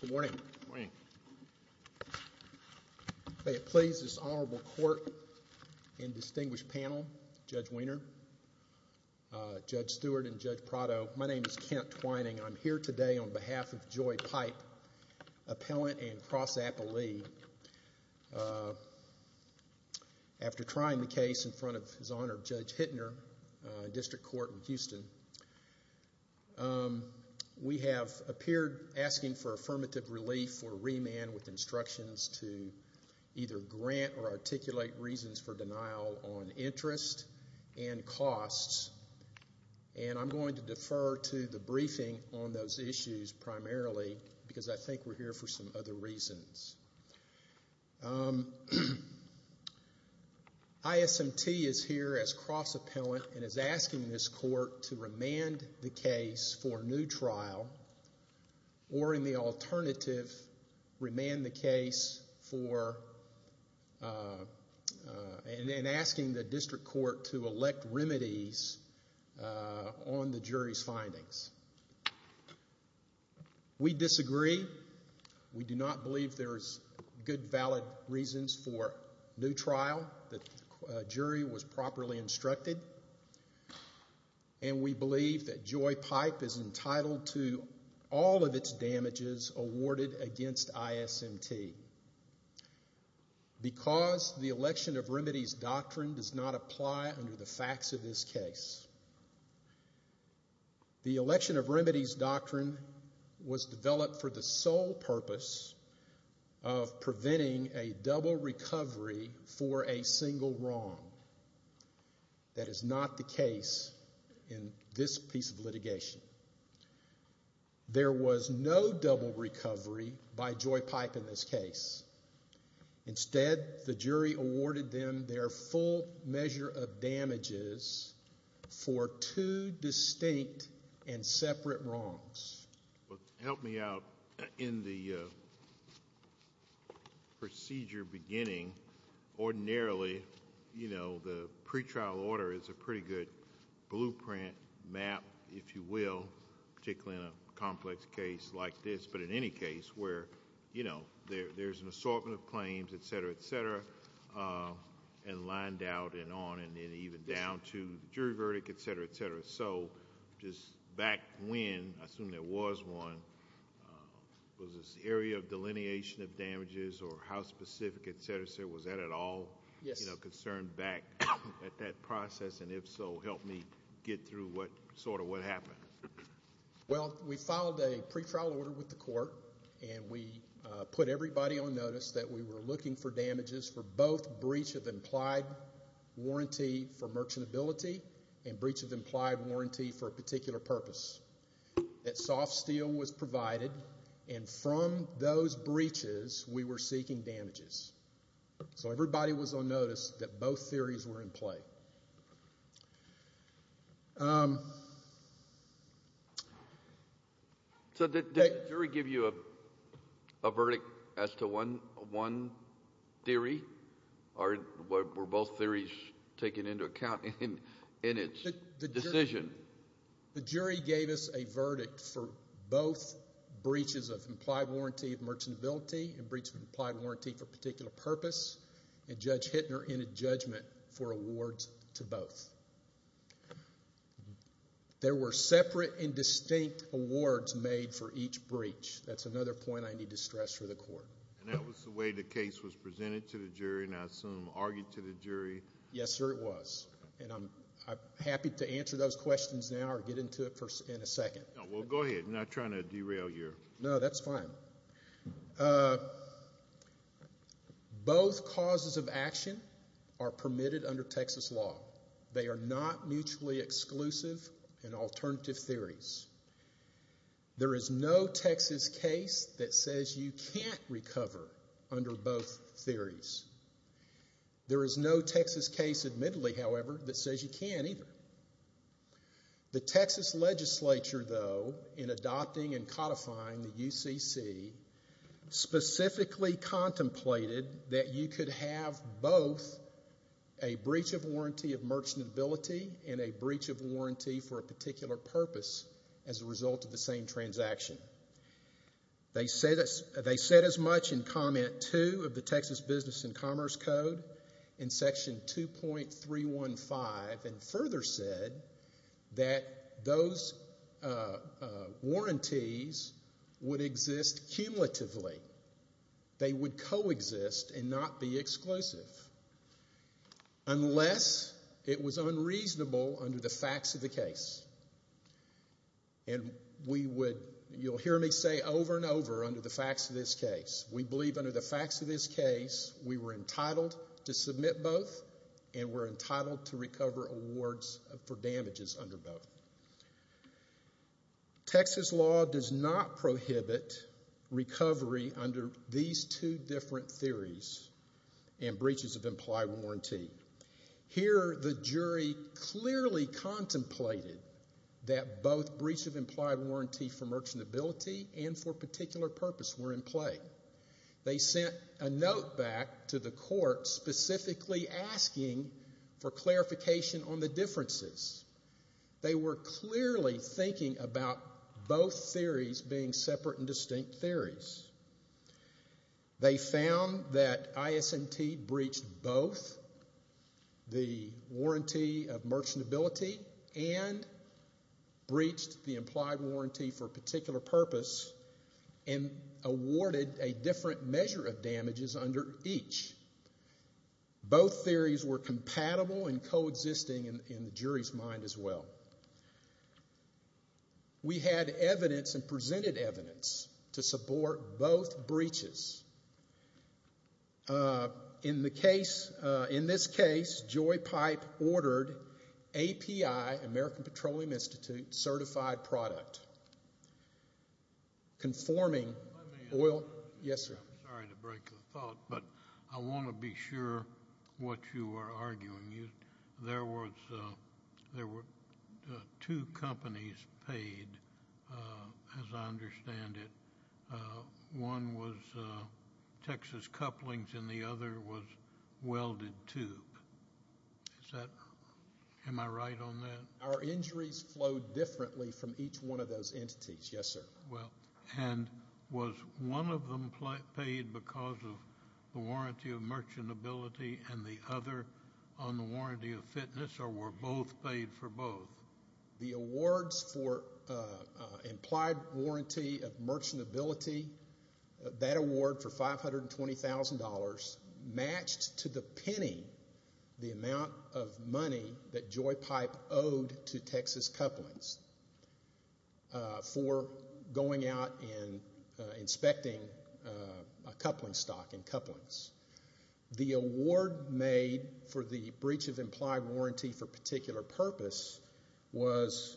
Good morning. May it please this honorable court and distinguished panel, Judge Wiener, Judge Stewart, and Judge Prado, my name is Kent Twining. I'm here today on behalf of District Court in Houston. We have appeared asking for affirmative relief or remand with instructions to either grant or articulate reasons for denial on interest and costs, and I'm going to defer to the briefing on those issues primarily because I think we're here for some other reasons. ISMT is here as cross-appellant and is asking this court to remand the case for new trial, or in the alternative, remand the case for, and asking the District Court to elect remedies on the jury's findings. We disagree. We do not believe there's good, valid reasons for new trial. The jury was properly instructed, and we believe that Joy Pipe is entitled to all of its damages awarded against ISMT. Because the election of remedies doctrine does not apply under the facts of this case. The election of remedies doctrine was developed for the sole purpose of preventing a double recovery for a single wrong. That is not the case in this piece of litigation. There was no double recovery by Joy Pipe in this case. Instead, the jury awarded them their full measure of damages for two distinct and separate wrongs. Help me out in the procedure beginning. Ordinarily, you know, the pretrial order is a pretty good case where, you know, there's an assortment of claims, et cetera, et cetera, and lined out and on and even down to the jury verdict, et cetera, et cetera. Just back when, I assume there was one, was this area of delineation of damages or how specific, et cetera, et cetera, was that at all concerned back at that process? If so, help me get through sort of what happened. Well, we filed a pretrial order with the court and we put everybody on notice that we were looking for damages for both breach of implied warranty for merchantability and breach of implied warranty for a particular purpose. That soft steel was provided and from those breaches we were seeking damages. So everybody was on notice that both theories were in play. So did the jury give you a verdict as to one theory or were both theories taken into account in its decision? The jury gave us a verdict for both breaches of implied warranty of merchantability and damages to both. There were separate and distinct awards made for each breach. That's another point I need to stress for the court. And that was the way the case was presented to the jury and, I assume, argued to the jury? Yes, sir, it was. And I'm happy to answer those questions now or get into it in a second. No, well, go ahead. I'm not trying to derail you. No, that's fine. Both causes of action are permitted under Texas law. They are not mutually exclusive and alternative theories. There is no Texas case that says you can't recover under both theories. There is no Texas case, admittedly, however, that says you can't either. The Texas legislature, though, in adopting and codifying the UCC, specifically contemplated that you could have both a breach of warranty of merchantability and a breach of warranty for a particular purpose as a result of the same transaction. They said as much in comment two of the Texas Business and Commerce Code in section 2.315 and further said that those warranties would exist cumulatively. They would coexist and not be exclusive unless it was unreasonable under the facts of the case. And we would, you'll hear me say over and over under the facts of this case. We believe under the facts of this case we were entitled to submit both and we're entitled to recover awards for damages under both. Texas law does not prohibit recovery under these two different theories and breaches of implied warranty. Here the jury clearly contemplated that both breach of implied warranty for merchantability and for a particular purpose were in play. They sent a note back to the court specifically asking for clarification on the differences. They were clearly thinking about both theories being separate and distinct theories. They found that ISMT breached both the warranty of merchantability and breached the implied warranty for a particular purpose and awarded a different measure of damages under each. Both theories were compatible and coexisting in the jury's mind as well. We had evidence and presented evidence to the court. In this case, Joy Pipe ordered API, American Petroleum Institute, certified product conforming oil. Yes, sir? I'm sorry to break the thought, but I want to be sure what you are arguing. There were two companies paid, as I understand it. One was Texas Couplings and the other was Welded Tube. Am I right on that? Our injuries flowed differently from each one of those entities. Yes, sir. And was one of them paid because of the warranty of merchantability and the other on the warranty of fitness or were both paid for both? The awards for implied warranty of merchantability, that award for $520,000 was paid for both injuries. $520,000 matched to the penny, the amount of money that Joy Pipe owed to Texas Couplings for going out and inspecting a coupling stock in Couplings. The award made for the breach of implied warranty for a particular purpose was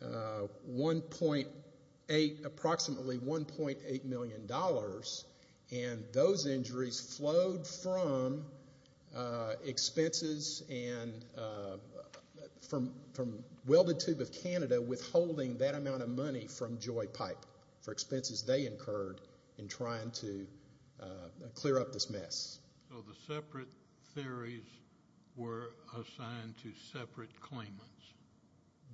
approximately $1.8 million and those injuries flowed from expenses and from Welded Tube of Canada withholding that amount of money from Joy Pipe for expenses they incurred in trying to clear up this mess. So the separate theories were assigned to separate claimants?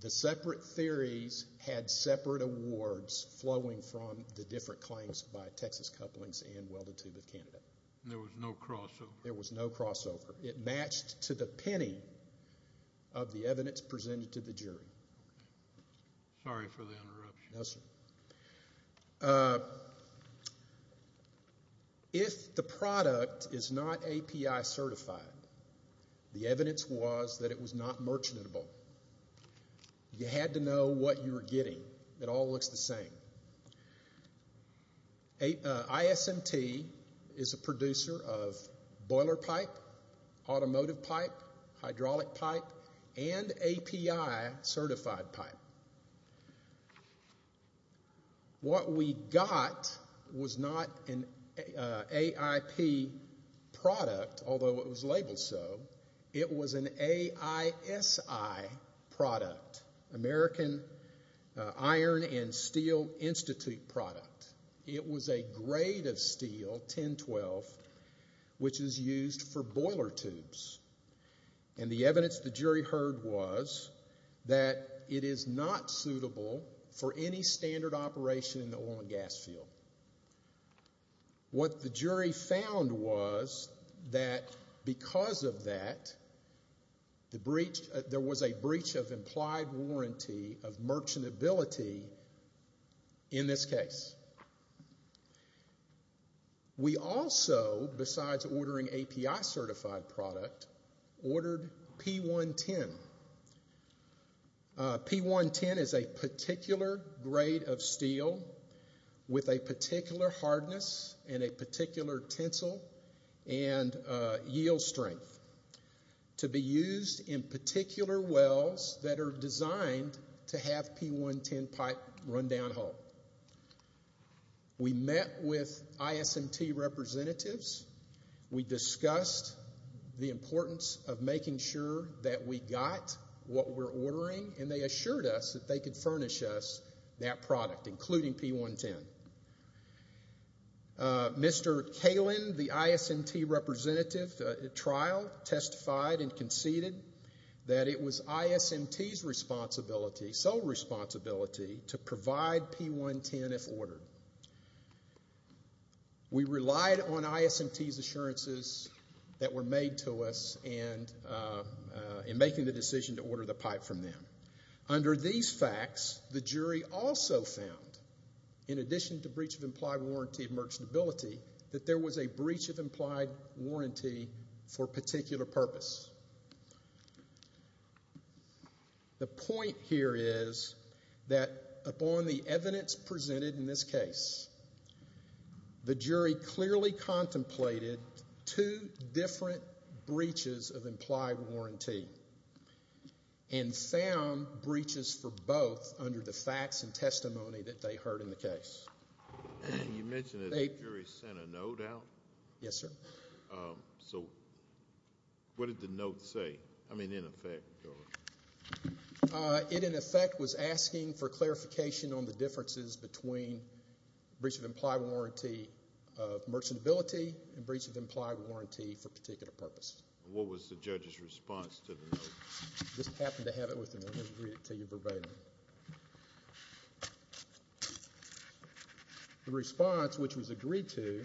The separate theories had separate awards flowing from the different claims by Texas Couplings and Welded Tube of Canada. There was no crossover? There was no crossover. It matched to the penny of the evidence presented to the jury. Sorry for the interruption. No, sir. If the product is not API certified, the evidence was that it was not merchantable. You had to know what you were getting. It all looks the same. ISMT is a producer of boiler pipe, automotive pipe, hydraulic pipe and API certified pipe. What we got was not an AIP product, although it was labeled so. It was an AISI product, American Iron and Steel Institute product. It was a grade of steel, 1012, which is used for boiler tubes. And the evidence the jury heard was that it is not suitable for any standard operation in the oil and gas field. What the jury found was that because of that, there was a breach of implied warranty of merchantability in this case. We also, besides ordering API certified product, ordered P110. P110 is a particular grade of steel with a particular hardness and a particular tensile and yield strength to be used in particular wells that are designed to have P110 pipe run down hole. We met with ISMT representatives. We discussed the importance of making sure that we got what we're ordering and they assured us that they could furnish us that product, including P110. Mr. Kalin, the ISMT representative at trial, testified and conceded that it was ISMT's sole responsibility to provide P110 if ordered. We relied on ISMT's assurances that were made to us in making the decision to order the pipe from them. Under these facts, the jury also found, in addition to breach of implied warranty of merchantability, that there was a breach of implied warranty for a particular purpose. The point here is that upon the evidence presented in this case, the jury clearly contemplated two different breaches of implied warranty. And found breaches for both under the facts and testimony that they heard in the case. You mentioned that the jury sent a note out? Yes, sir. What did the note say? I mean, in effect? It, in effect, was asking for clarification on the differences between breach of implied warranty of merchantability and breach of implied warranty for a particular purpose. What was the judge's response to the note? I just happened to have it with me. I'm going to read it to you verbatim. The response, which was agreed to,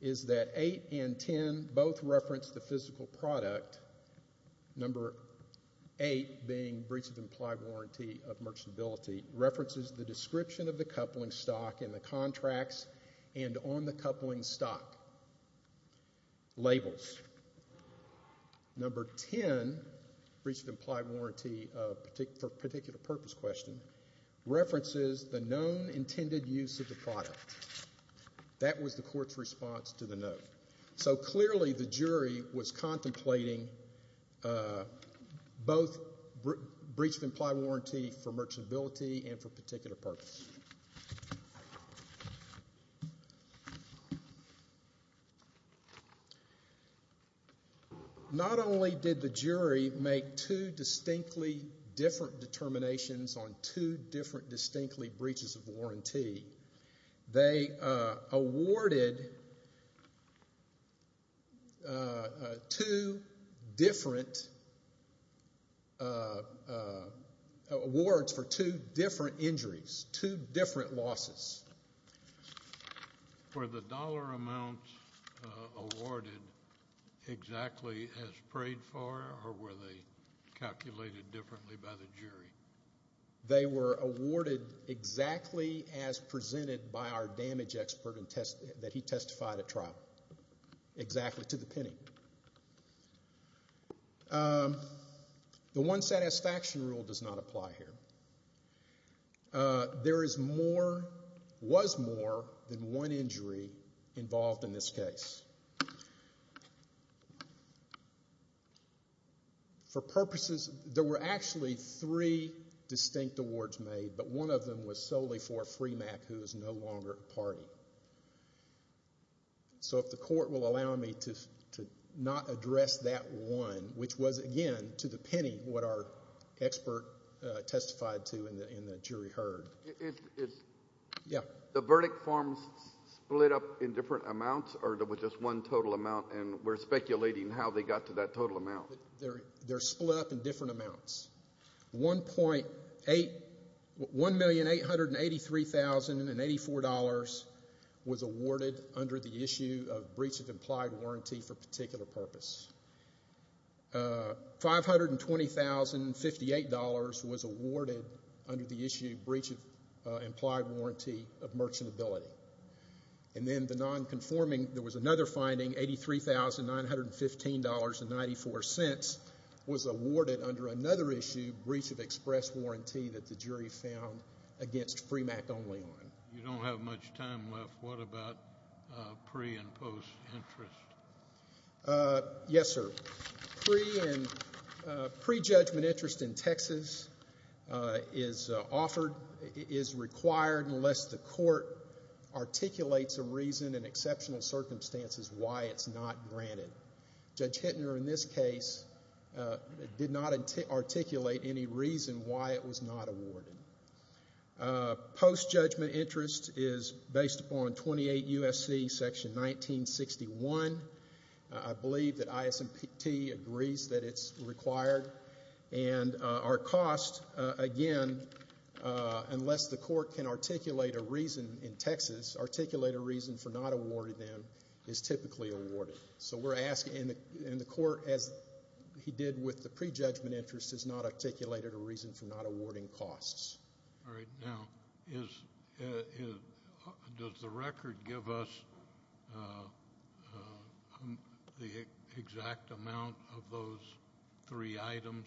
is that 8 and 10 both referenced the physical product, number 8 being breach of implied warranty of merchantability references the description of the coupling stock and the contracts and on the coupling stock labels. Number 10, breach of implied warranty for a particular purpose question references the known intended use of the product. That was the court's response to the note. So clearly the jury was contemplating both breach of implied warranty for merchantability and for a particular purpose. Not only did the jury make two distinctly different determinations on two different distinctly breaches of warranty, they awarded two different awards for two different injuries, two different losses. Were the dollar amounts awarded exactly as prayed for or were they calculated differently by the jury? They were awarded exactly as presented by our damage expert that he testified at trial, exactly to the penny. The one satisfaction rule does not apply here. There is more, was more than one injury involved in this case. For purposes, there were actually three distinct awards made, but one of them was solely for Fremack who is no longer a party. So if the court will allow me to not address that one, which was again to the penny what our expert testified to and the jury heard. The verdict forms split up in different amounts or there was just one total amount and we're speculating how they got to that total amount? They're split up in different amounts. $1,883,084 was awarded under the issue of breach of implied warranty for particular purpose. $520,058 was awarded under the issue of breach of implied warranty of merchantability. And then the non-conforming, there was another finding, $83,915.94 was awarded under another issue, breach of express warranty that the jury found against Fremack only on. You don't have much time left. What about pre and post interest? Yes, sir. Pre and pre-judgment interest in Texas is offered, is required unless the court articulates a reason in exceptional circumstances why it's not granted. Judge Hittner in this case did not articulate any reason why it was not awarded. Post-judgment interest is based upon 28 U.S.C. section 1961. I believe that ISMPT agrees that it's required and our cost, again, unless the court can articulate a reason in Texas, articulate a reason for not awarding them is typically awarded. So we're asking, and the court, as he did with the pre-judgment interest, has not articulated a reason for not awarding costs. All right. Now, does the record give us the exact amount of those three items,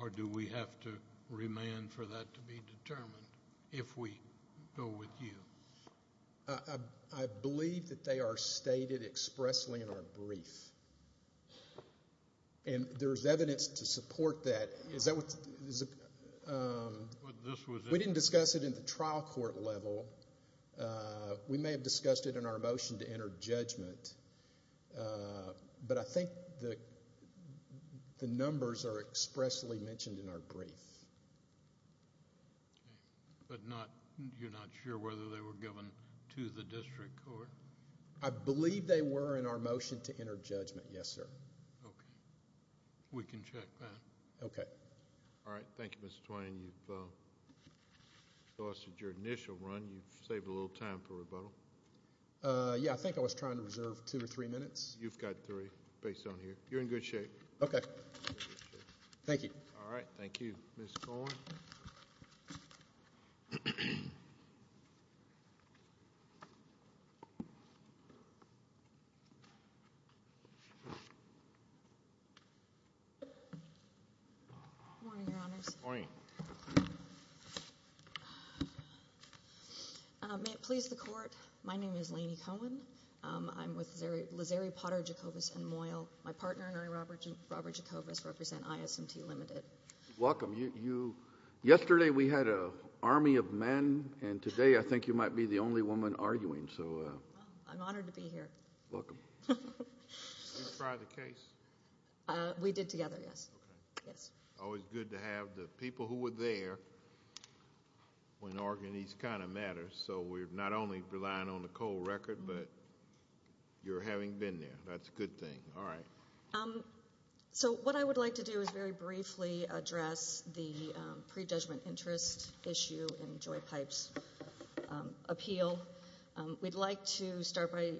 or do we have to remand for that to be determined if we go with the judge or with you? I believe that they are stated expressly in our brief, and there's evidence to support that. We didn't discuss it in the trial court level. We may have discussed it in our motion to enter judgment, but I think the numbers are expressly mentioned in our brief. Okay. But you're not sure whether they were given to the district court? I believe they were in our motion to enter judgment, yes, sir. Okay. We can check that. Okay. All right. Thank you, Mr. Twain. You've exhausted your initial run. You've saved a little time for rebuttal. Yeah, I think I was trying to reserve two or three minutes. You've got three minutes, based on here. You're in good shape. Okay. Thank you. All right. Thank you, Ms. Cohen. Good morning, Your Honors. Good morning. May it please the Court, my name is Lanie Cohen. I'm with Lazeri, Potter, Jacobus, and Moyle. My partner and I, Robert Jacobus, represent ISMT Limited. Welcome. Yesterday we had an army of men, and today I think you might be the only woman arguing. I'm honored to be here. Welcome. Did you try the case? We did together, yes. Okay. It's always good to have the people who were there when arguing these kinds of matters. So we're not only relying on the cold record, but you're having been there. That's a good thing. All right. So what I would like to do is very briefly address the pre-judgment interest issue in Joy Pipe's appeal. We'd like to start by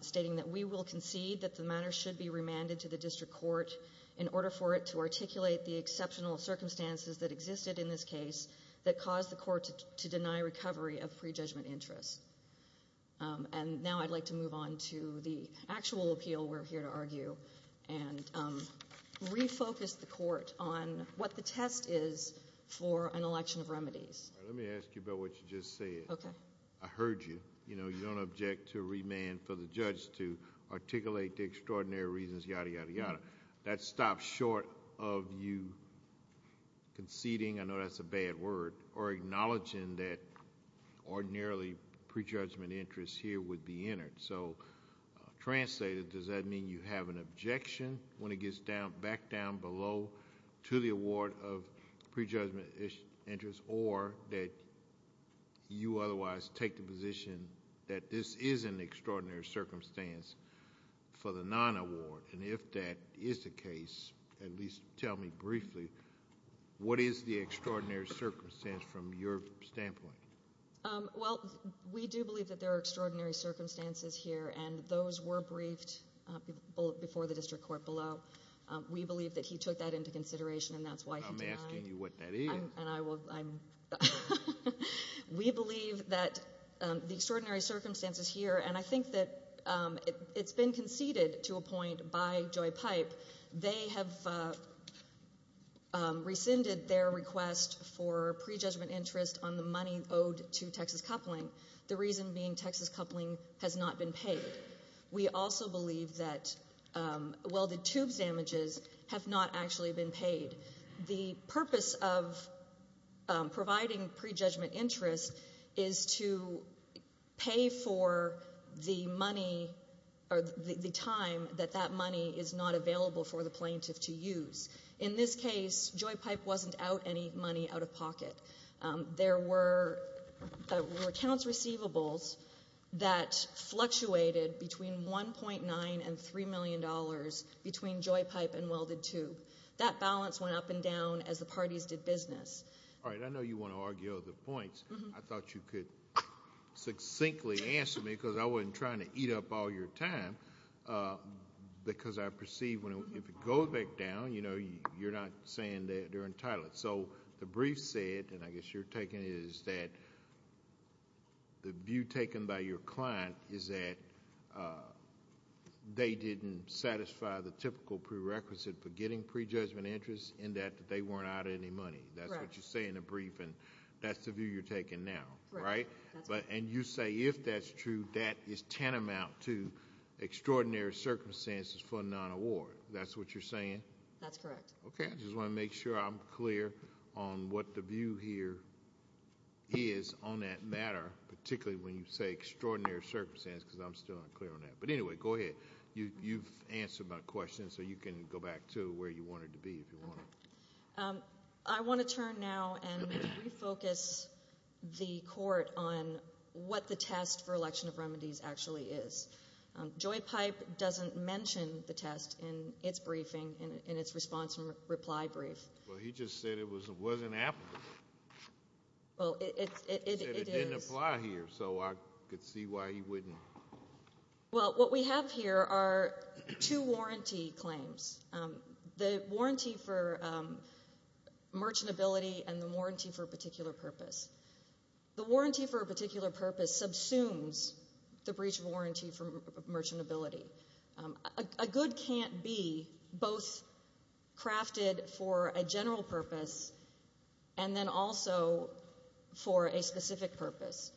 stating that we will concede that the matter should be remanded to the district court in order for it to articulate the exceptional circumstances that existed in this case that caused the discovery of pre-judgment interest. And now I'd like to move on to the actual appeal we're here to argue and refocus the Court on what the test is for an election of remedies. Let me ask you about what you just said. Okay. I heard you. You know, you don't object to remand for the judge to articulate the extraordinary reasons, yada, yada, yada. That stops short of you conceding, I know that's a bad word, or acknowledging that ordinarily pre-judgment interest here would be entered. So translated, does that mean you have an objection when it gets back down below to the award of pre-judgment interest or that you otherwise take the position that this is an extraordinary circumstance for the non-award? And if that is the case, at least tell me briefly, what is the extraordinary circumstance from your standpoint? Well, we do believe that there are extraordinary circumstances here and those were briefed before the district court below. We believe that he took that into consideration and that's why he denied. I'm asking you what that is. We believe that the extraordinary circumstances here, and I think that it's been conceded to a point by Joy Pipe, they have rescinded their request for pre-judgment interest on the money owed to Texas Coupling, the reason being Texas Coupling has not been paid. We also believe that welded tube damages have not actually been paid. The purpose of providing pre-judgment interest is to pay for the money or the time that that money is not available for the plaintiff to use. In this case, Joy Pipe wasn't out any money out of pocket. There were accounts receivables that fluctuated between $1.9 and $3 million between Joy Pipe and Welded Tube. That balance went up and down as the parties did business. All right, I know you want to argue other points. I thought you could succinctly answer me because I wasn't trying to eat up all your time because I perceive if it goes back down, you know, you're not saying that they're entitled. So the brief said, and I guess you're taking it, is that the view taken by your client is that they didn't satisfy the typical prerequisite for getting pre-judgment interest in that they weren't out of any money. That's what you say in the brief and that's the view you're taking now, right? You say if that's true, that is tantamount to extraordinary circumstances for a non-award. That's what you're saying? That's correct. Okay, I just want to make sure I'm clear on what the view here is on that matter, particularly when you say extraordinary circumstances because I'm still unclear on that. But anyway, go ahead. You've answered my question, so you can go back to where you wanted to be if you want. I want to turn now and refocus the Court on what the test for election of remedies actually is. Joy Pipe doesn't mention the test in its briefing, in its response and reply brief. Well, he just said it wasn't applicable. Well, it is. He said it didn't apply here, so I could see why he wouldn't. Well, what we have here are two warranty claims, the warranty for merchantability and the warranty for a particular purpose. The warranty for a particular purpose subsumes the breach of warranty for merchantability. A good can't be both crafted for a general purpose and then also for a specific purpose.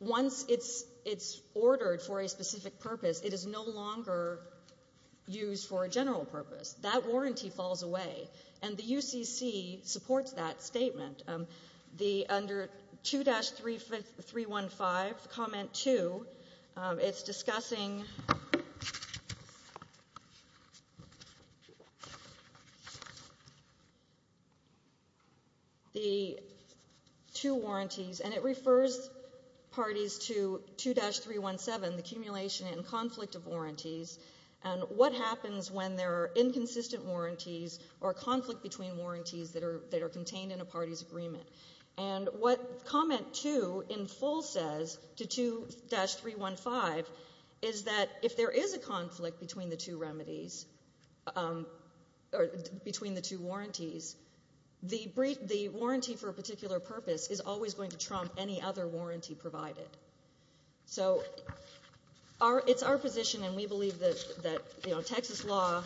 Once it's ordered for a specific purpose, it is no longer used for a general purpose. That warranty falls away, and the UCC supports that statement. Under 2-315, Comment 2, it's discussing the two warranties, and it refers parties to 2-317, the accumulation and conflict of warranties, and what happens when there are inconsistent warranties or conflict between warranties that are contained in a party's agreement. And what Comment 2 in full says to 2-315 is that if there is a conflict between the two remedies or between the two warranties, the warranty for a particular purpose is always going to trump any other warranty provided. So it's our position, and we believe that Texas law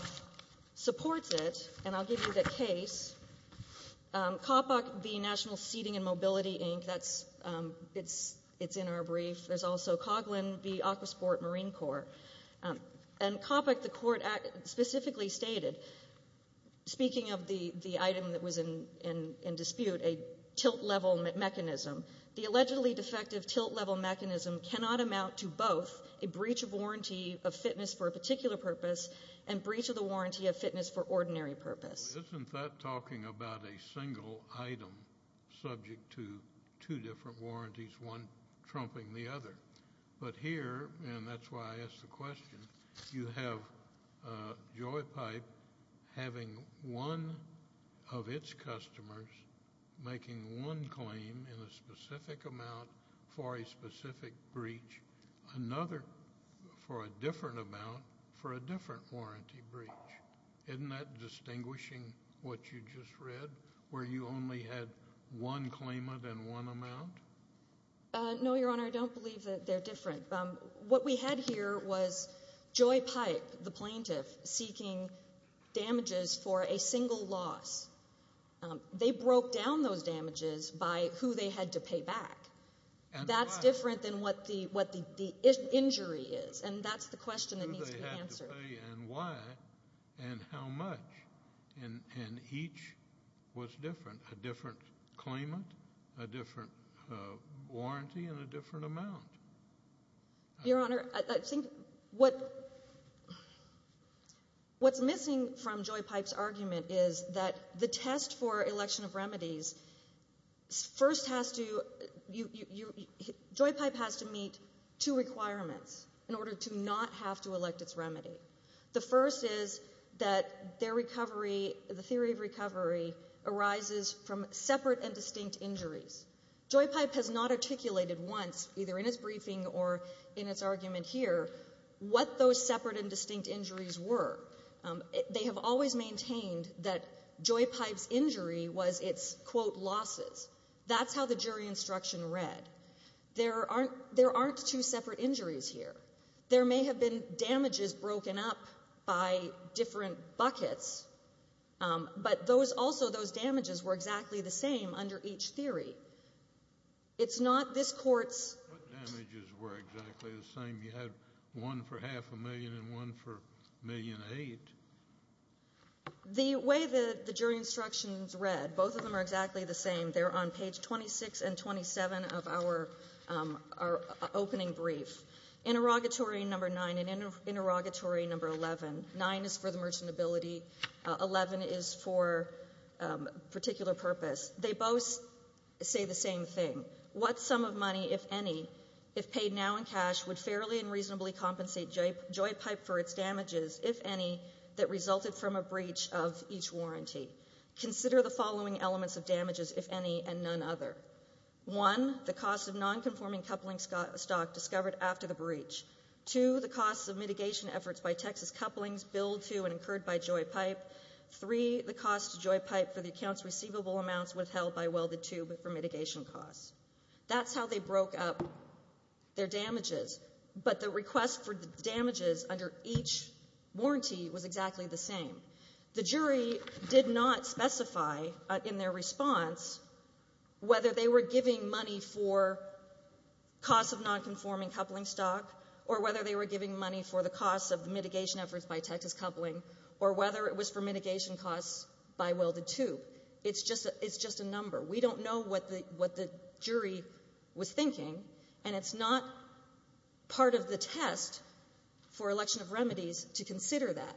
supports it, and I'll give you the case. COPAC v. National Seating and Mobility Inc., it's in our brief. There's also COGLIN v. Aquasport Marine Corps. And COPAC, the defective tilt-level mechanism cannot amount to both a breach of warranty of fitness for a particular purpose and breach of the warranty of fitness for ordinary purpose. Isn't that talking about a single item subject to two different warranties, one trumping the other? But here, and that's why I asked the question, you have Joypipe having one of its customers making one claim in a specific amount for a specific breach, another for a different amount for a different warranty breach. Isn't that distinguishing what you just read, where you only had one claimant and one amount? No, Your Honor, I don't believe that they're different. What we had here was Joypipe, the loss. They broke down those damages by who they had to pay back. That's different than what the injury is, and that's the question that needs to be answered. Who they had to pay and why, and how much, and each was different, a different claimant, a different warranty, and a different amount. Your Honor, I think what's missing from Joypipe's argument is that the test for election of remedies first has to, Joypipe has to meet two requirements in order to not have to elect its remedy. The first is that their recovery, the theory of recovery arises from separate and distinct injuries. Joypipe has not articulated once, either in its briefing or in its argument here, what those separate and distinct injuries were. They have always maintained that Joypipe's injury was its, quote, losses. That's how the jury instruction read. There aren't two separate injuries here. There may have been damages broken up by different buckets, but those also, those damages were exactly the same under each theory. It's not this court's What damages were exactly the same? You had one for half a million and one for a million eight. The way the jury instructions read, both of them are exactly the same. They're on page 26 and 27 of our opening brief. Interrogatory number 9 and interrogatory number 11, 9 is for the merchant ability, 11 is for particular purpose. They both say the same thing. What sum of money, if any, if paid now in cash, would fairly and reasonably compensate Joypipe for its damages, if any, that resulted from a breach of each warranty? Consider the following elements of damages, if any, and none other. One, the cost of nonconforming coupling stock discovered after the breach. Two, the cost of mitigation efforts by Texas couplings billed to and incurred by Joypipe. Three, the cost to Joypipe for the account's receivable amounts withheld by welded tube for mitigation costs. That's how they broke up their damages, but the request for the damages under each warranty was exactly the same. The jury did not specify in their response whether they were giving money for cost of nonconforming coupling stock or whether they were giving money for the cost of mitigation efforts by Texas coupling or whether it was for mitigation costs by welded tube. It's just a number. We don't know what the jury was thinking, and it's not part of the test for election of remedies to consider that.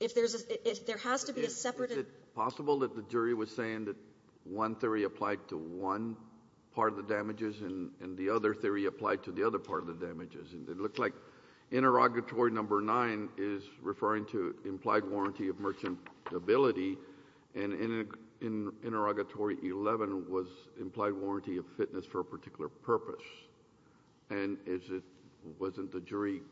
If there's a — if there has to be a separate — Kennedy, is it possible that the jury was saying that one theory applied to one part of the damages and the other theory applied to the other part of the damages? It looks like interrogatory number 9 is referring to implied warranty of merchantability, and interrogatory 11 was implied warranty of fitness for a particular purpose. And is it — wasn't the jury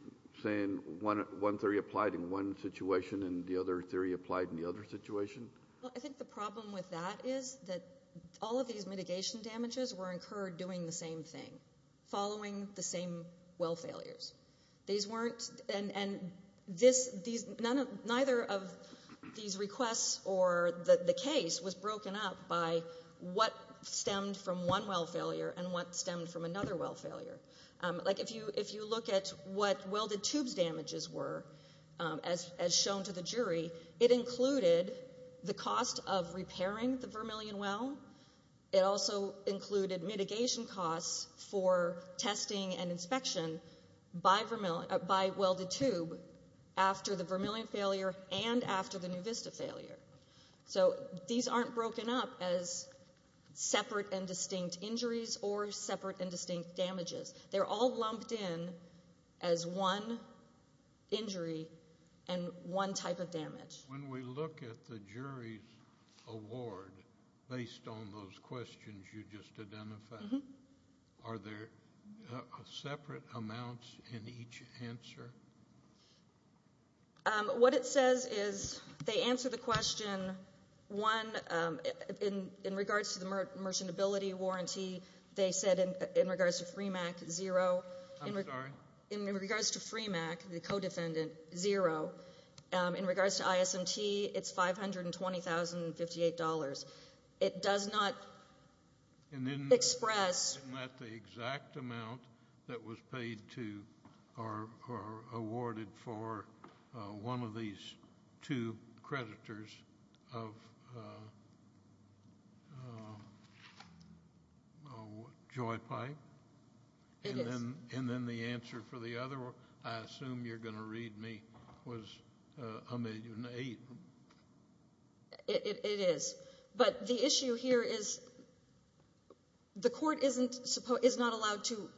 saying one theory applied in one situation and the other theory applied in the other situation? Well, I think the problem with that is that all of these mitigation damages were incurred doing the same thing, following the same well failures. These weren't — and this — these — none of — neither of these requests or the case was broken up by what stemmed from one well failure and what stemmed from another well failure. Like, if you look at what welded tubes damages were, as shown to the jury, it included the cost of repairing the Vermilion well. It also included mitigation costs for testing and inspection by welded tube after the Vermilion failure and after the NuVista failure. So these aren't broken up as separate and distinct injuries or separate and distinct damages. They're all lumped in as one injury and one type of damage. When we look at the jury's award, based on those questions you just identified, are there separate amounts in each answer? What it says is they answer the question, one, in regards to the merchantability warranty, they said in regards to FREMAC, zero. I'm sorry? In regards to FREMAC, the co-defendant, zero. In regards to ISMT, it's $520,058. It does not express — It was awarded for one of these two creditors of Joy Pipe. It is. And then the answer for the other one, I assume you're going to read me, was $1,008,000. It is. But the issue here is the court is not allowed to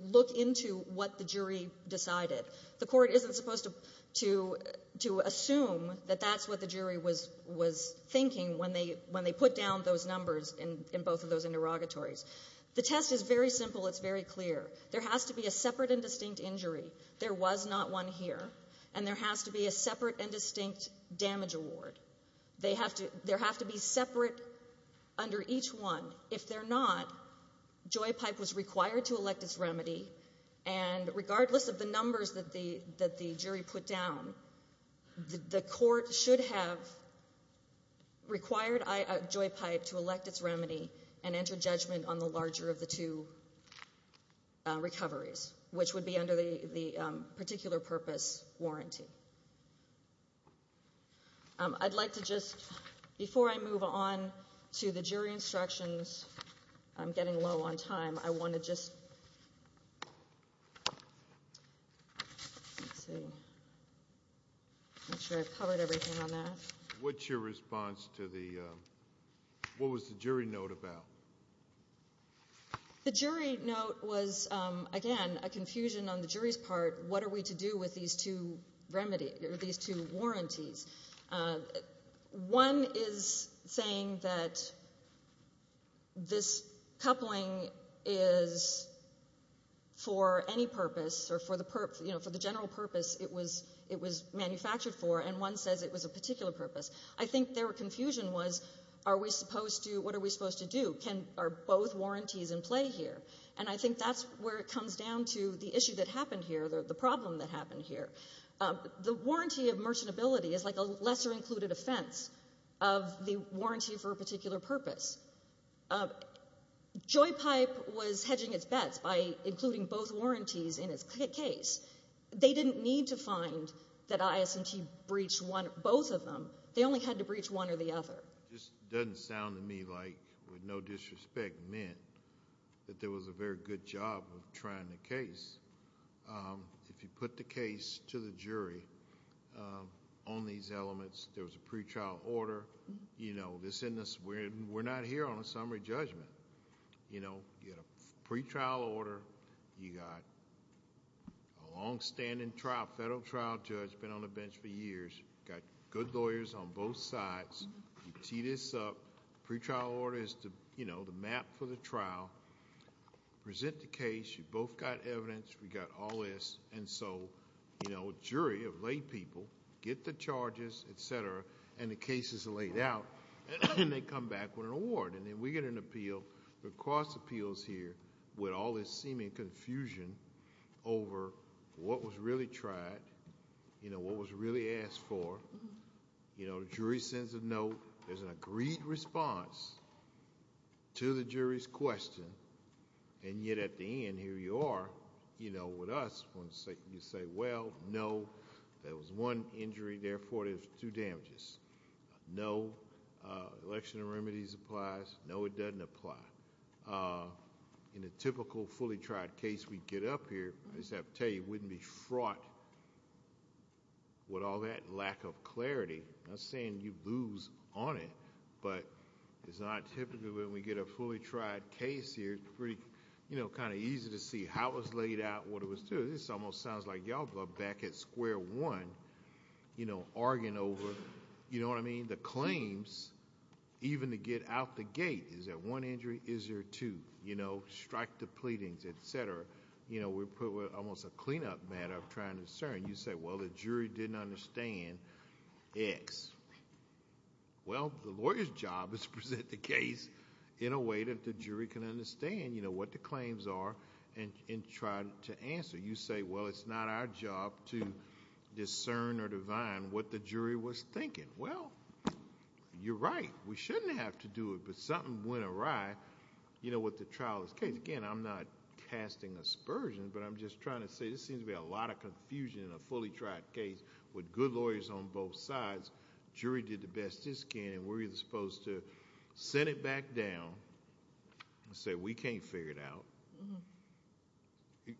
look into what the jury decided. The court isn't supposed to assume that that's what the jury was thinking when they put down those numbers in both of those interrogatories. The test is very simple. It's very clear. There has to be a separate and distinct injury. There was not one here. And there has to be a separate and distinct damage award. There have to be separate under each one. If they're not, Joy Pipe was required to elect its remedy. And regardless of the numbers that the jury put down, the court should have required Joy Pipe to elect its remedy and enter judgment on the larger of the two recoveries, which would be under the particular purpose warranty. I'd like to just — before I move on to the jury instructions, I'm getting low on time. I want to just — let's see. Make sure I've covered everything on that. What's your response to the — what was the jury note about? The jury note was, again, a confusion on the jury's part. What are we to do with these two warranties? One is saying that this coupling is for any purpose or for the general purpose it was manufactured for, and one says it was a particular purpose. I think their confusion was, what are we supposed to do? Are both warranties in play here? And I think that's where it comes down to the issue that happened here, the problem that happened here. The warranty of merchantability is like a lesser-included offense of the warranty for a particular purpose. Joy Pipe was hedging its bets by including both warranties in its case. They didn't need to find that IS&T breached both of them. They only had to breach one or the other. It just doesn't sound to me like with no disrespect meant that there was a very good job of trying the case. If you put the case to the jury on these elements, there was a pretrial order. You know, we're not here on a summary judgment. You know, you had a pretrial order. You got a longstanding trial, federal trial judge, been on the bench for years, got good lawyers on both sides. You tee this up. The pretrial order is the map for the trial. Present the case. You both got evidence. We got all this. And so, you know, jury of laypeople get the charges, et cetera, and the cases are laid out. And they come back with an award. And then we get an appeal. We cross appeals here with all this seeming confusion over what was really tried, you know, what was really asked for. You know, the jury sends a note. There's an agreed response to the jury's question. And yet at the end, here you are, you know, with us. You say, well, no, there was one injury. Therefore, there's two damages. No, election of remedies applies. No, it doesn't apply. In a typical fully tried case we get up here, I just have to tell you, you wouldn't be fraught with all that lack of clarity. I'm not saying you lose on it, but it's not typically when we get a fully tried case here, it's pretty, you know, kind of easy to see how it was laid out, what it was due. This almost sounds like y'all are back at square one, you know, arguing over, you know what I mean, the claims, even to get out the gate. Is there one injury? Is there two? You know, strike the pleadings, et cetera. You know, we're put with almost a cleanup matter of trying to discern. You say, well, the jury didn't understand X. Well, the lawyer's job is to present the case in a way that the jury can understand, you know, what the claims are and try to answer. You say, well, it's not our job to discern or divine what the jury was thinking. Well, you're right. We shouldn't have to do it, but something went awry, you know, with the trial of this case. Again, I'm not casting aspersions, but I'm just trying to say this seems to be a lot of confusion in a fully tried case with good lawyers on both sides. Jury did the best it can, and we're supposed to sit it back down and say, we can't figure it out.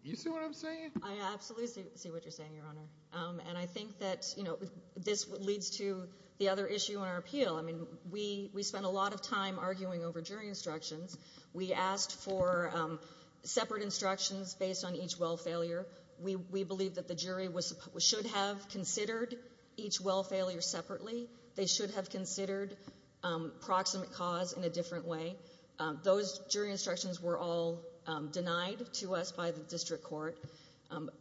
You see what I'm saying? I absolutely see what you're saying, Your Honor. And I think that, you know, this leads to the other issue in our appeal. I mean, we spent a lot of time arguing over jury instructions. We asked for separate instructions based on each well failure. We believe that the jury should have considered each well failure separately. They should have considered proximate cause in a different way. Those jury instructions were all denied to us by the district court.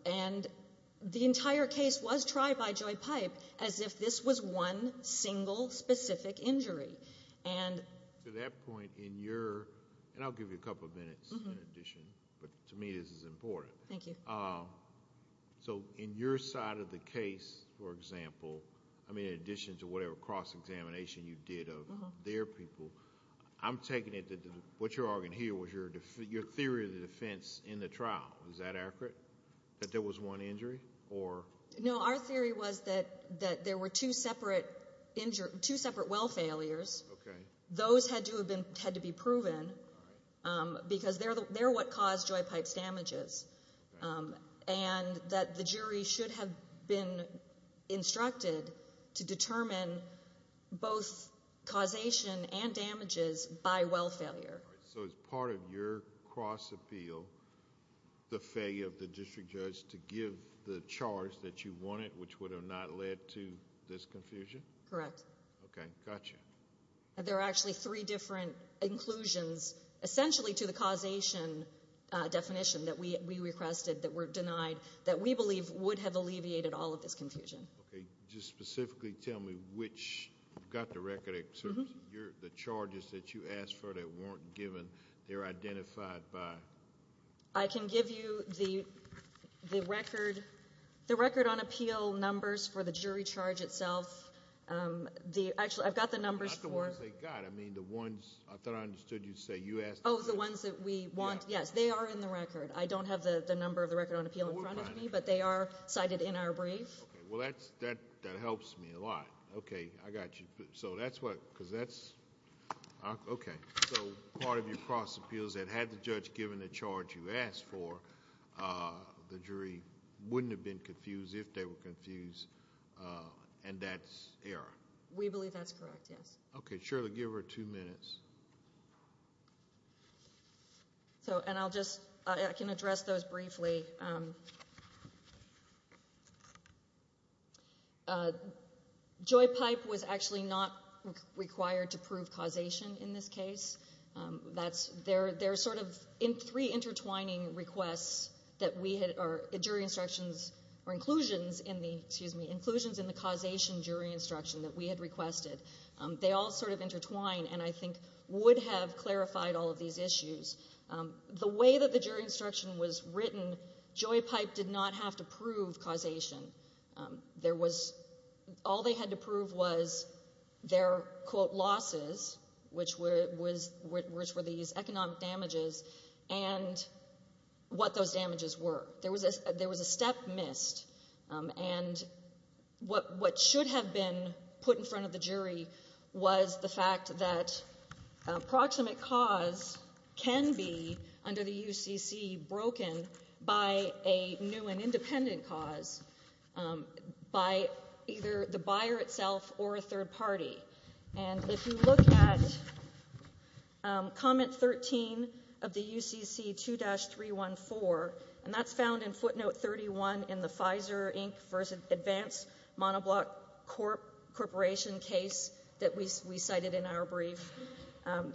And the entire case was tried by Joy Pipe as if this was one single specific injury. And... To that point, in your... and I'll give you a couple of minutes in addition, but to me this is important. Thank you. So in your side of the case, for example, I mean, in addition to whatever cross-examination you did of their people, I'm taking it that what you're arguing here was your theory of the defense in the trial. Is that accurate, that there was one injury or... No, our theory was that there were two separate well failures. Okay. Those had to be proven because they're what caused Joy Pipe's damages. And that the jury should have been instructed to determine both causation and damages by well failure. All right. So as part of your cross-appeal, the failure of the district judge to give the charge that you wanted, which would have not led to this confusion? Correct. Okay. Gotcha. There are actually three different inclusions essentially to the causation definition that we requested that were denied that we believe would have alleviated all of this confusion. Okay. Just specifically tell me which... you've got the record of the charges that you asked for that weren't given. They're identified by... I can give you the record on appeal numbers for the jury charge itself. Actually, I've got the numbers for... Not the ones they got. I thought I understood you say you asked... Oh, the ones that we want. Yes, they are in the record. I don't have the number of the record on appeal in front of me, but they are cited in our brief. Okay. Well, that helps me a lot. Okay. I got you. So that's what... because that's... Okay. So part of your cross appeals that had the judge given the charge you asked for, the jury wouldn't have been confused if they were confused, and that's error? We believe that's correct, yes. Okay. Shirley, give her two minutes. I can address those briefly. Joy Pipe was actually not required to prove causation in this case. That's... There are sort of three intertwining requests that we had, or jury instructions, or inclusions in the, excuse me, inclusions in the causation jury instruction that we had requested. They all sort of intertwine, and I think would have clarified all of these issues. The way that the jury instruction was written, Joy Pipe did not have to prove causation. There was... all they had to prove was their, quote, losses, which were these economic damages, and what those damages were. There was a step missed, and what should have been put in front of the jury was the fact that approximate cause can be, under the UCC, broken by a new and independent cause by either the buyer itself or a third party. And if you look at comment 13 of the UCC 2-314, and that's found in footnote 31 in the Pfizer Inc. first advanced monoblock corporation case that we cited in our brief,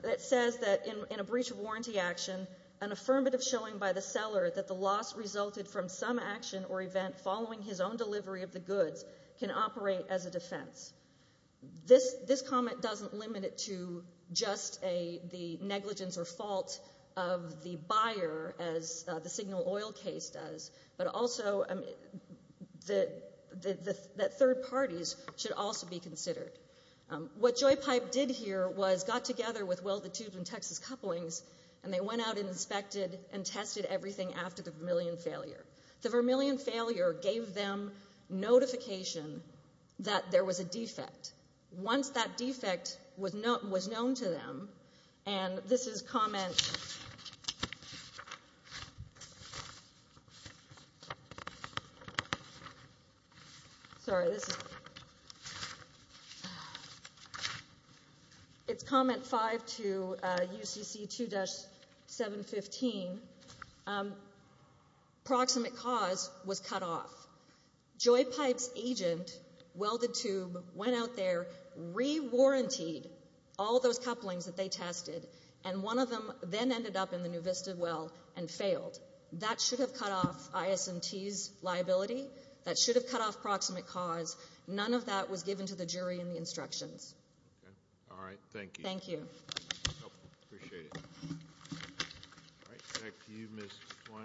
it says that in a breach of warranty action, an affirmative showing by the seller that the loss resulted from some action or event following his own delivery of the goods can operate as a defense. This comment doesn't limit it to just the negligence or fault of the buyer, as the Signal Oil case does, but also that third parties should also be considered. What Joy Pipe did here was got together with Welded Tubes and Texas Couplings, and they went out and inspected and tested everything after the Vermilion failure. The Vermilion failure gave them notification that there was a defect. Once that defect was known to them, and this is comment 5 to UCC 2-715, approximate cause was cut off. Joy Pipe's agent, Welded Tube, went out there, re-warrantied all those couplings that they tested, and one of them then ended up in the new Vista well and failed. That should have cut off ISMT's liability. That should have cut off approximate cause. None of that was given to the jury in the instructions. All right. Thank you. Thank you. Appreciate it. All right. Back to you, Ms. Twain.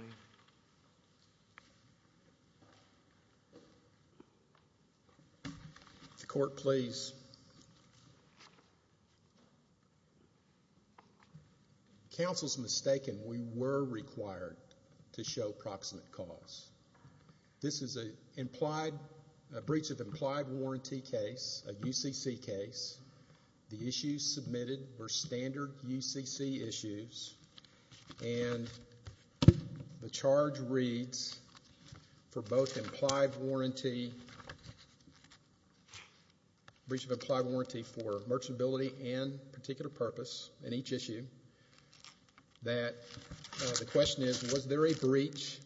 Court, please. Counsel's mistaken. We were required to show approximate cause. This is a breach of implied warranty case, a UCC case. The issues submitted were standard UCC issues, and the charge reads for both implied warranty, breach of implied warranty for merchantability and particular purpose in each issue, that the question is, was there a breach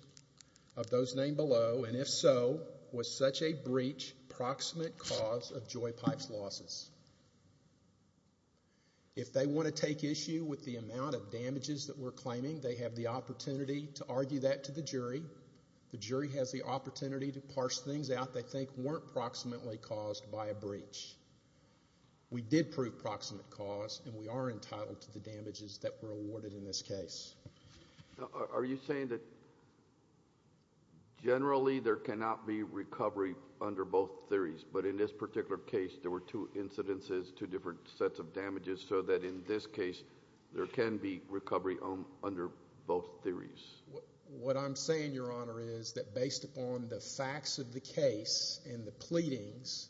of those named below, and if so, was such a breach proximate cause of Joy Pipe's losses? If they want to take issue with the amount of damages that we're claiming, they have the opportunity to argue that to the jury. The jury has the opportunity to parse things out they think weren't proximately caused by a breach. We did prove proximate cause, and we are entitled to the damages that were awarded in this case. Are you saying that generally there cannot be recovery under both theories, but in this particular case there were two incidences, two different sets of damages, so that in this case there can be recovery under both theories? What I'm saying, Your Honor, is that based upon the facts of the case and the pleadings,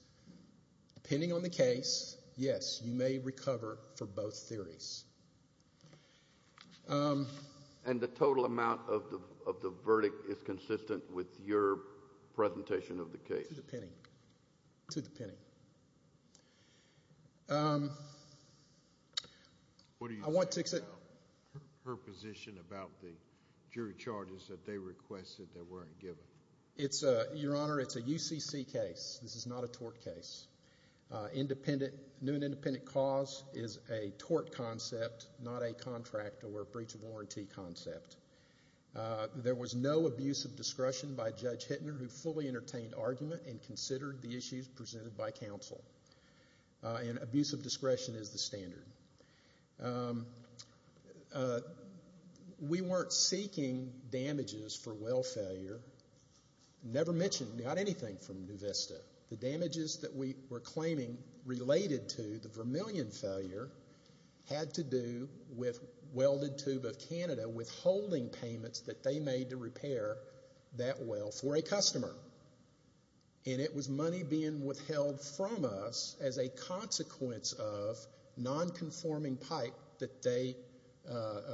depending on the case, yes, you may recover for both theories. And the total amount of the verdict is consistent with your presentation of the case? To the penny. What do you think about her position about the jury charges that they requested that weren't given? Your Honor, it's a UCC case. This is not a tort case. New and independent cause is a tort concept, not a contract or a breach of warranty concept. There was no abuse of discretion by Judge Hittner, who fully entertained argument and considered the issues presented by counsel. And abuse of discretion is the standard. We weren't seeking damages for well failure. Never mentioned, not anything from NuVista. The damages that we were claiming related to the Vermillion failure had to do with Welded Tube of Canada withholding payments that they made to repair that well for a customer. And it was money being withheld from us as a consequence of non-conforming pipe that they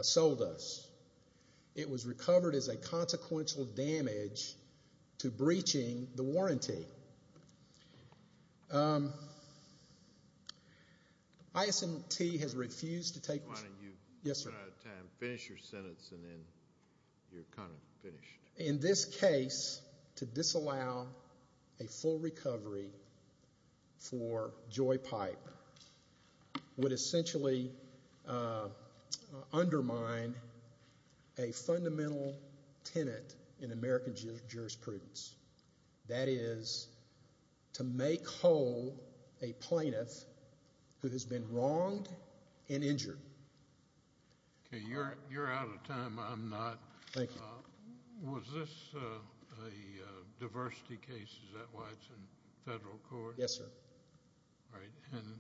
sold us. It was recovered as a consequential damage to breaching the warranty. ISMT has refused to take- Your Honor, you've run out of time. Finish your sentence and then you're kind of finished. In this case, to disallow a full recovery for Joy Pipe would essentially undermine a fundamental tenet in American jurisprudence. That is to make whole a plaintiff who has been wronged and injured. Okay, you're out of time. I'm not. Thank you. Was this a diversity case? Is that why it's in federal court? Yes, sir. All right. And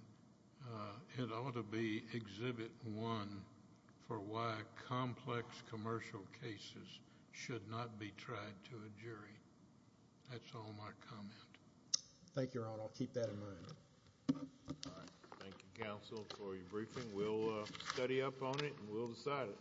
it ought to be exhibit one for why complex commercial cases should not be tried to a jury. That's all my comment. Thank you, Your Honor. I'll keep that in mind. All right. Thank you, counsel, for your briefing. We'll study up on it and we'll decide it.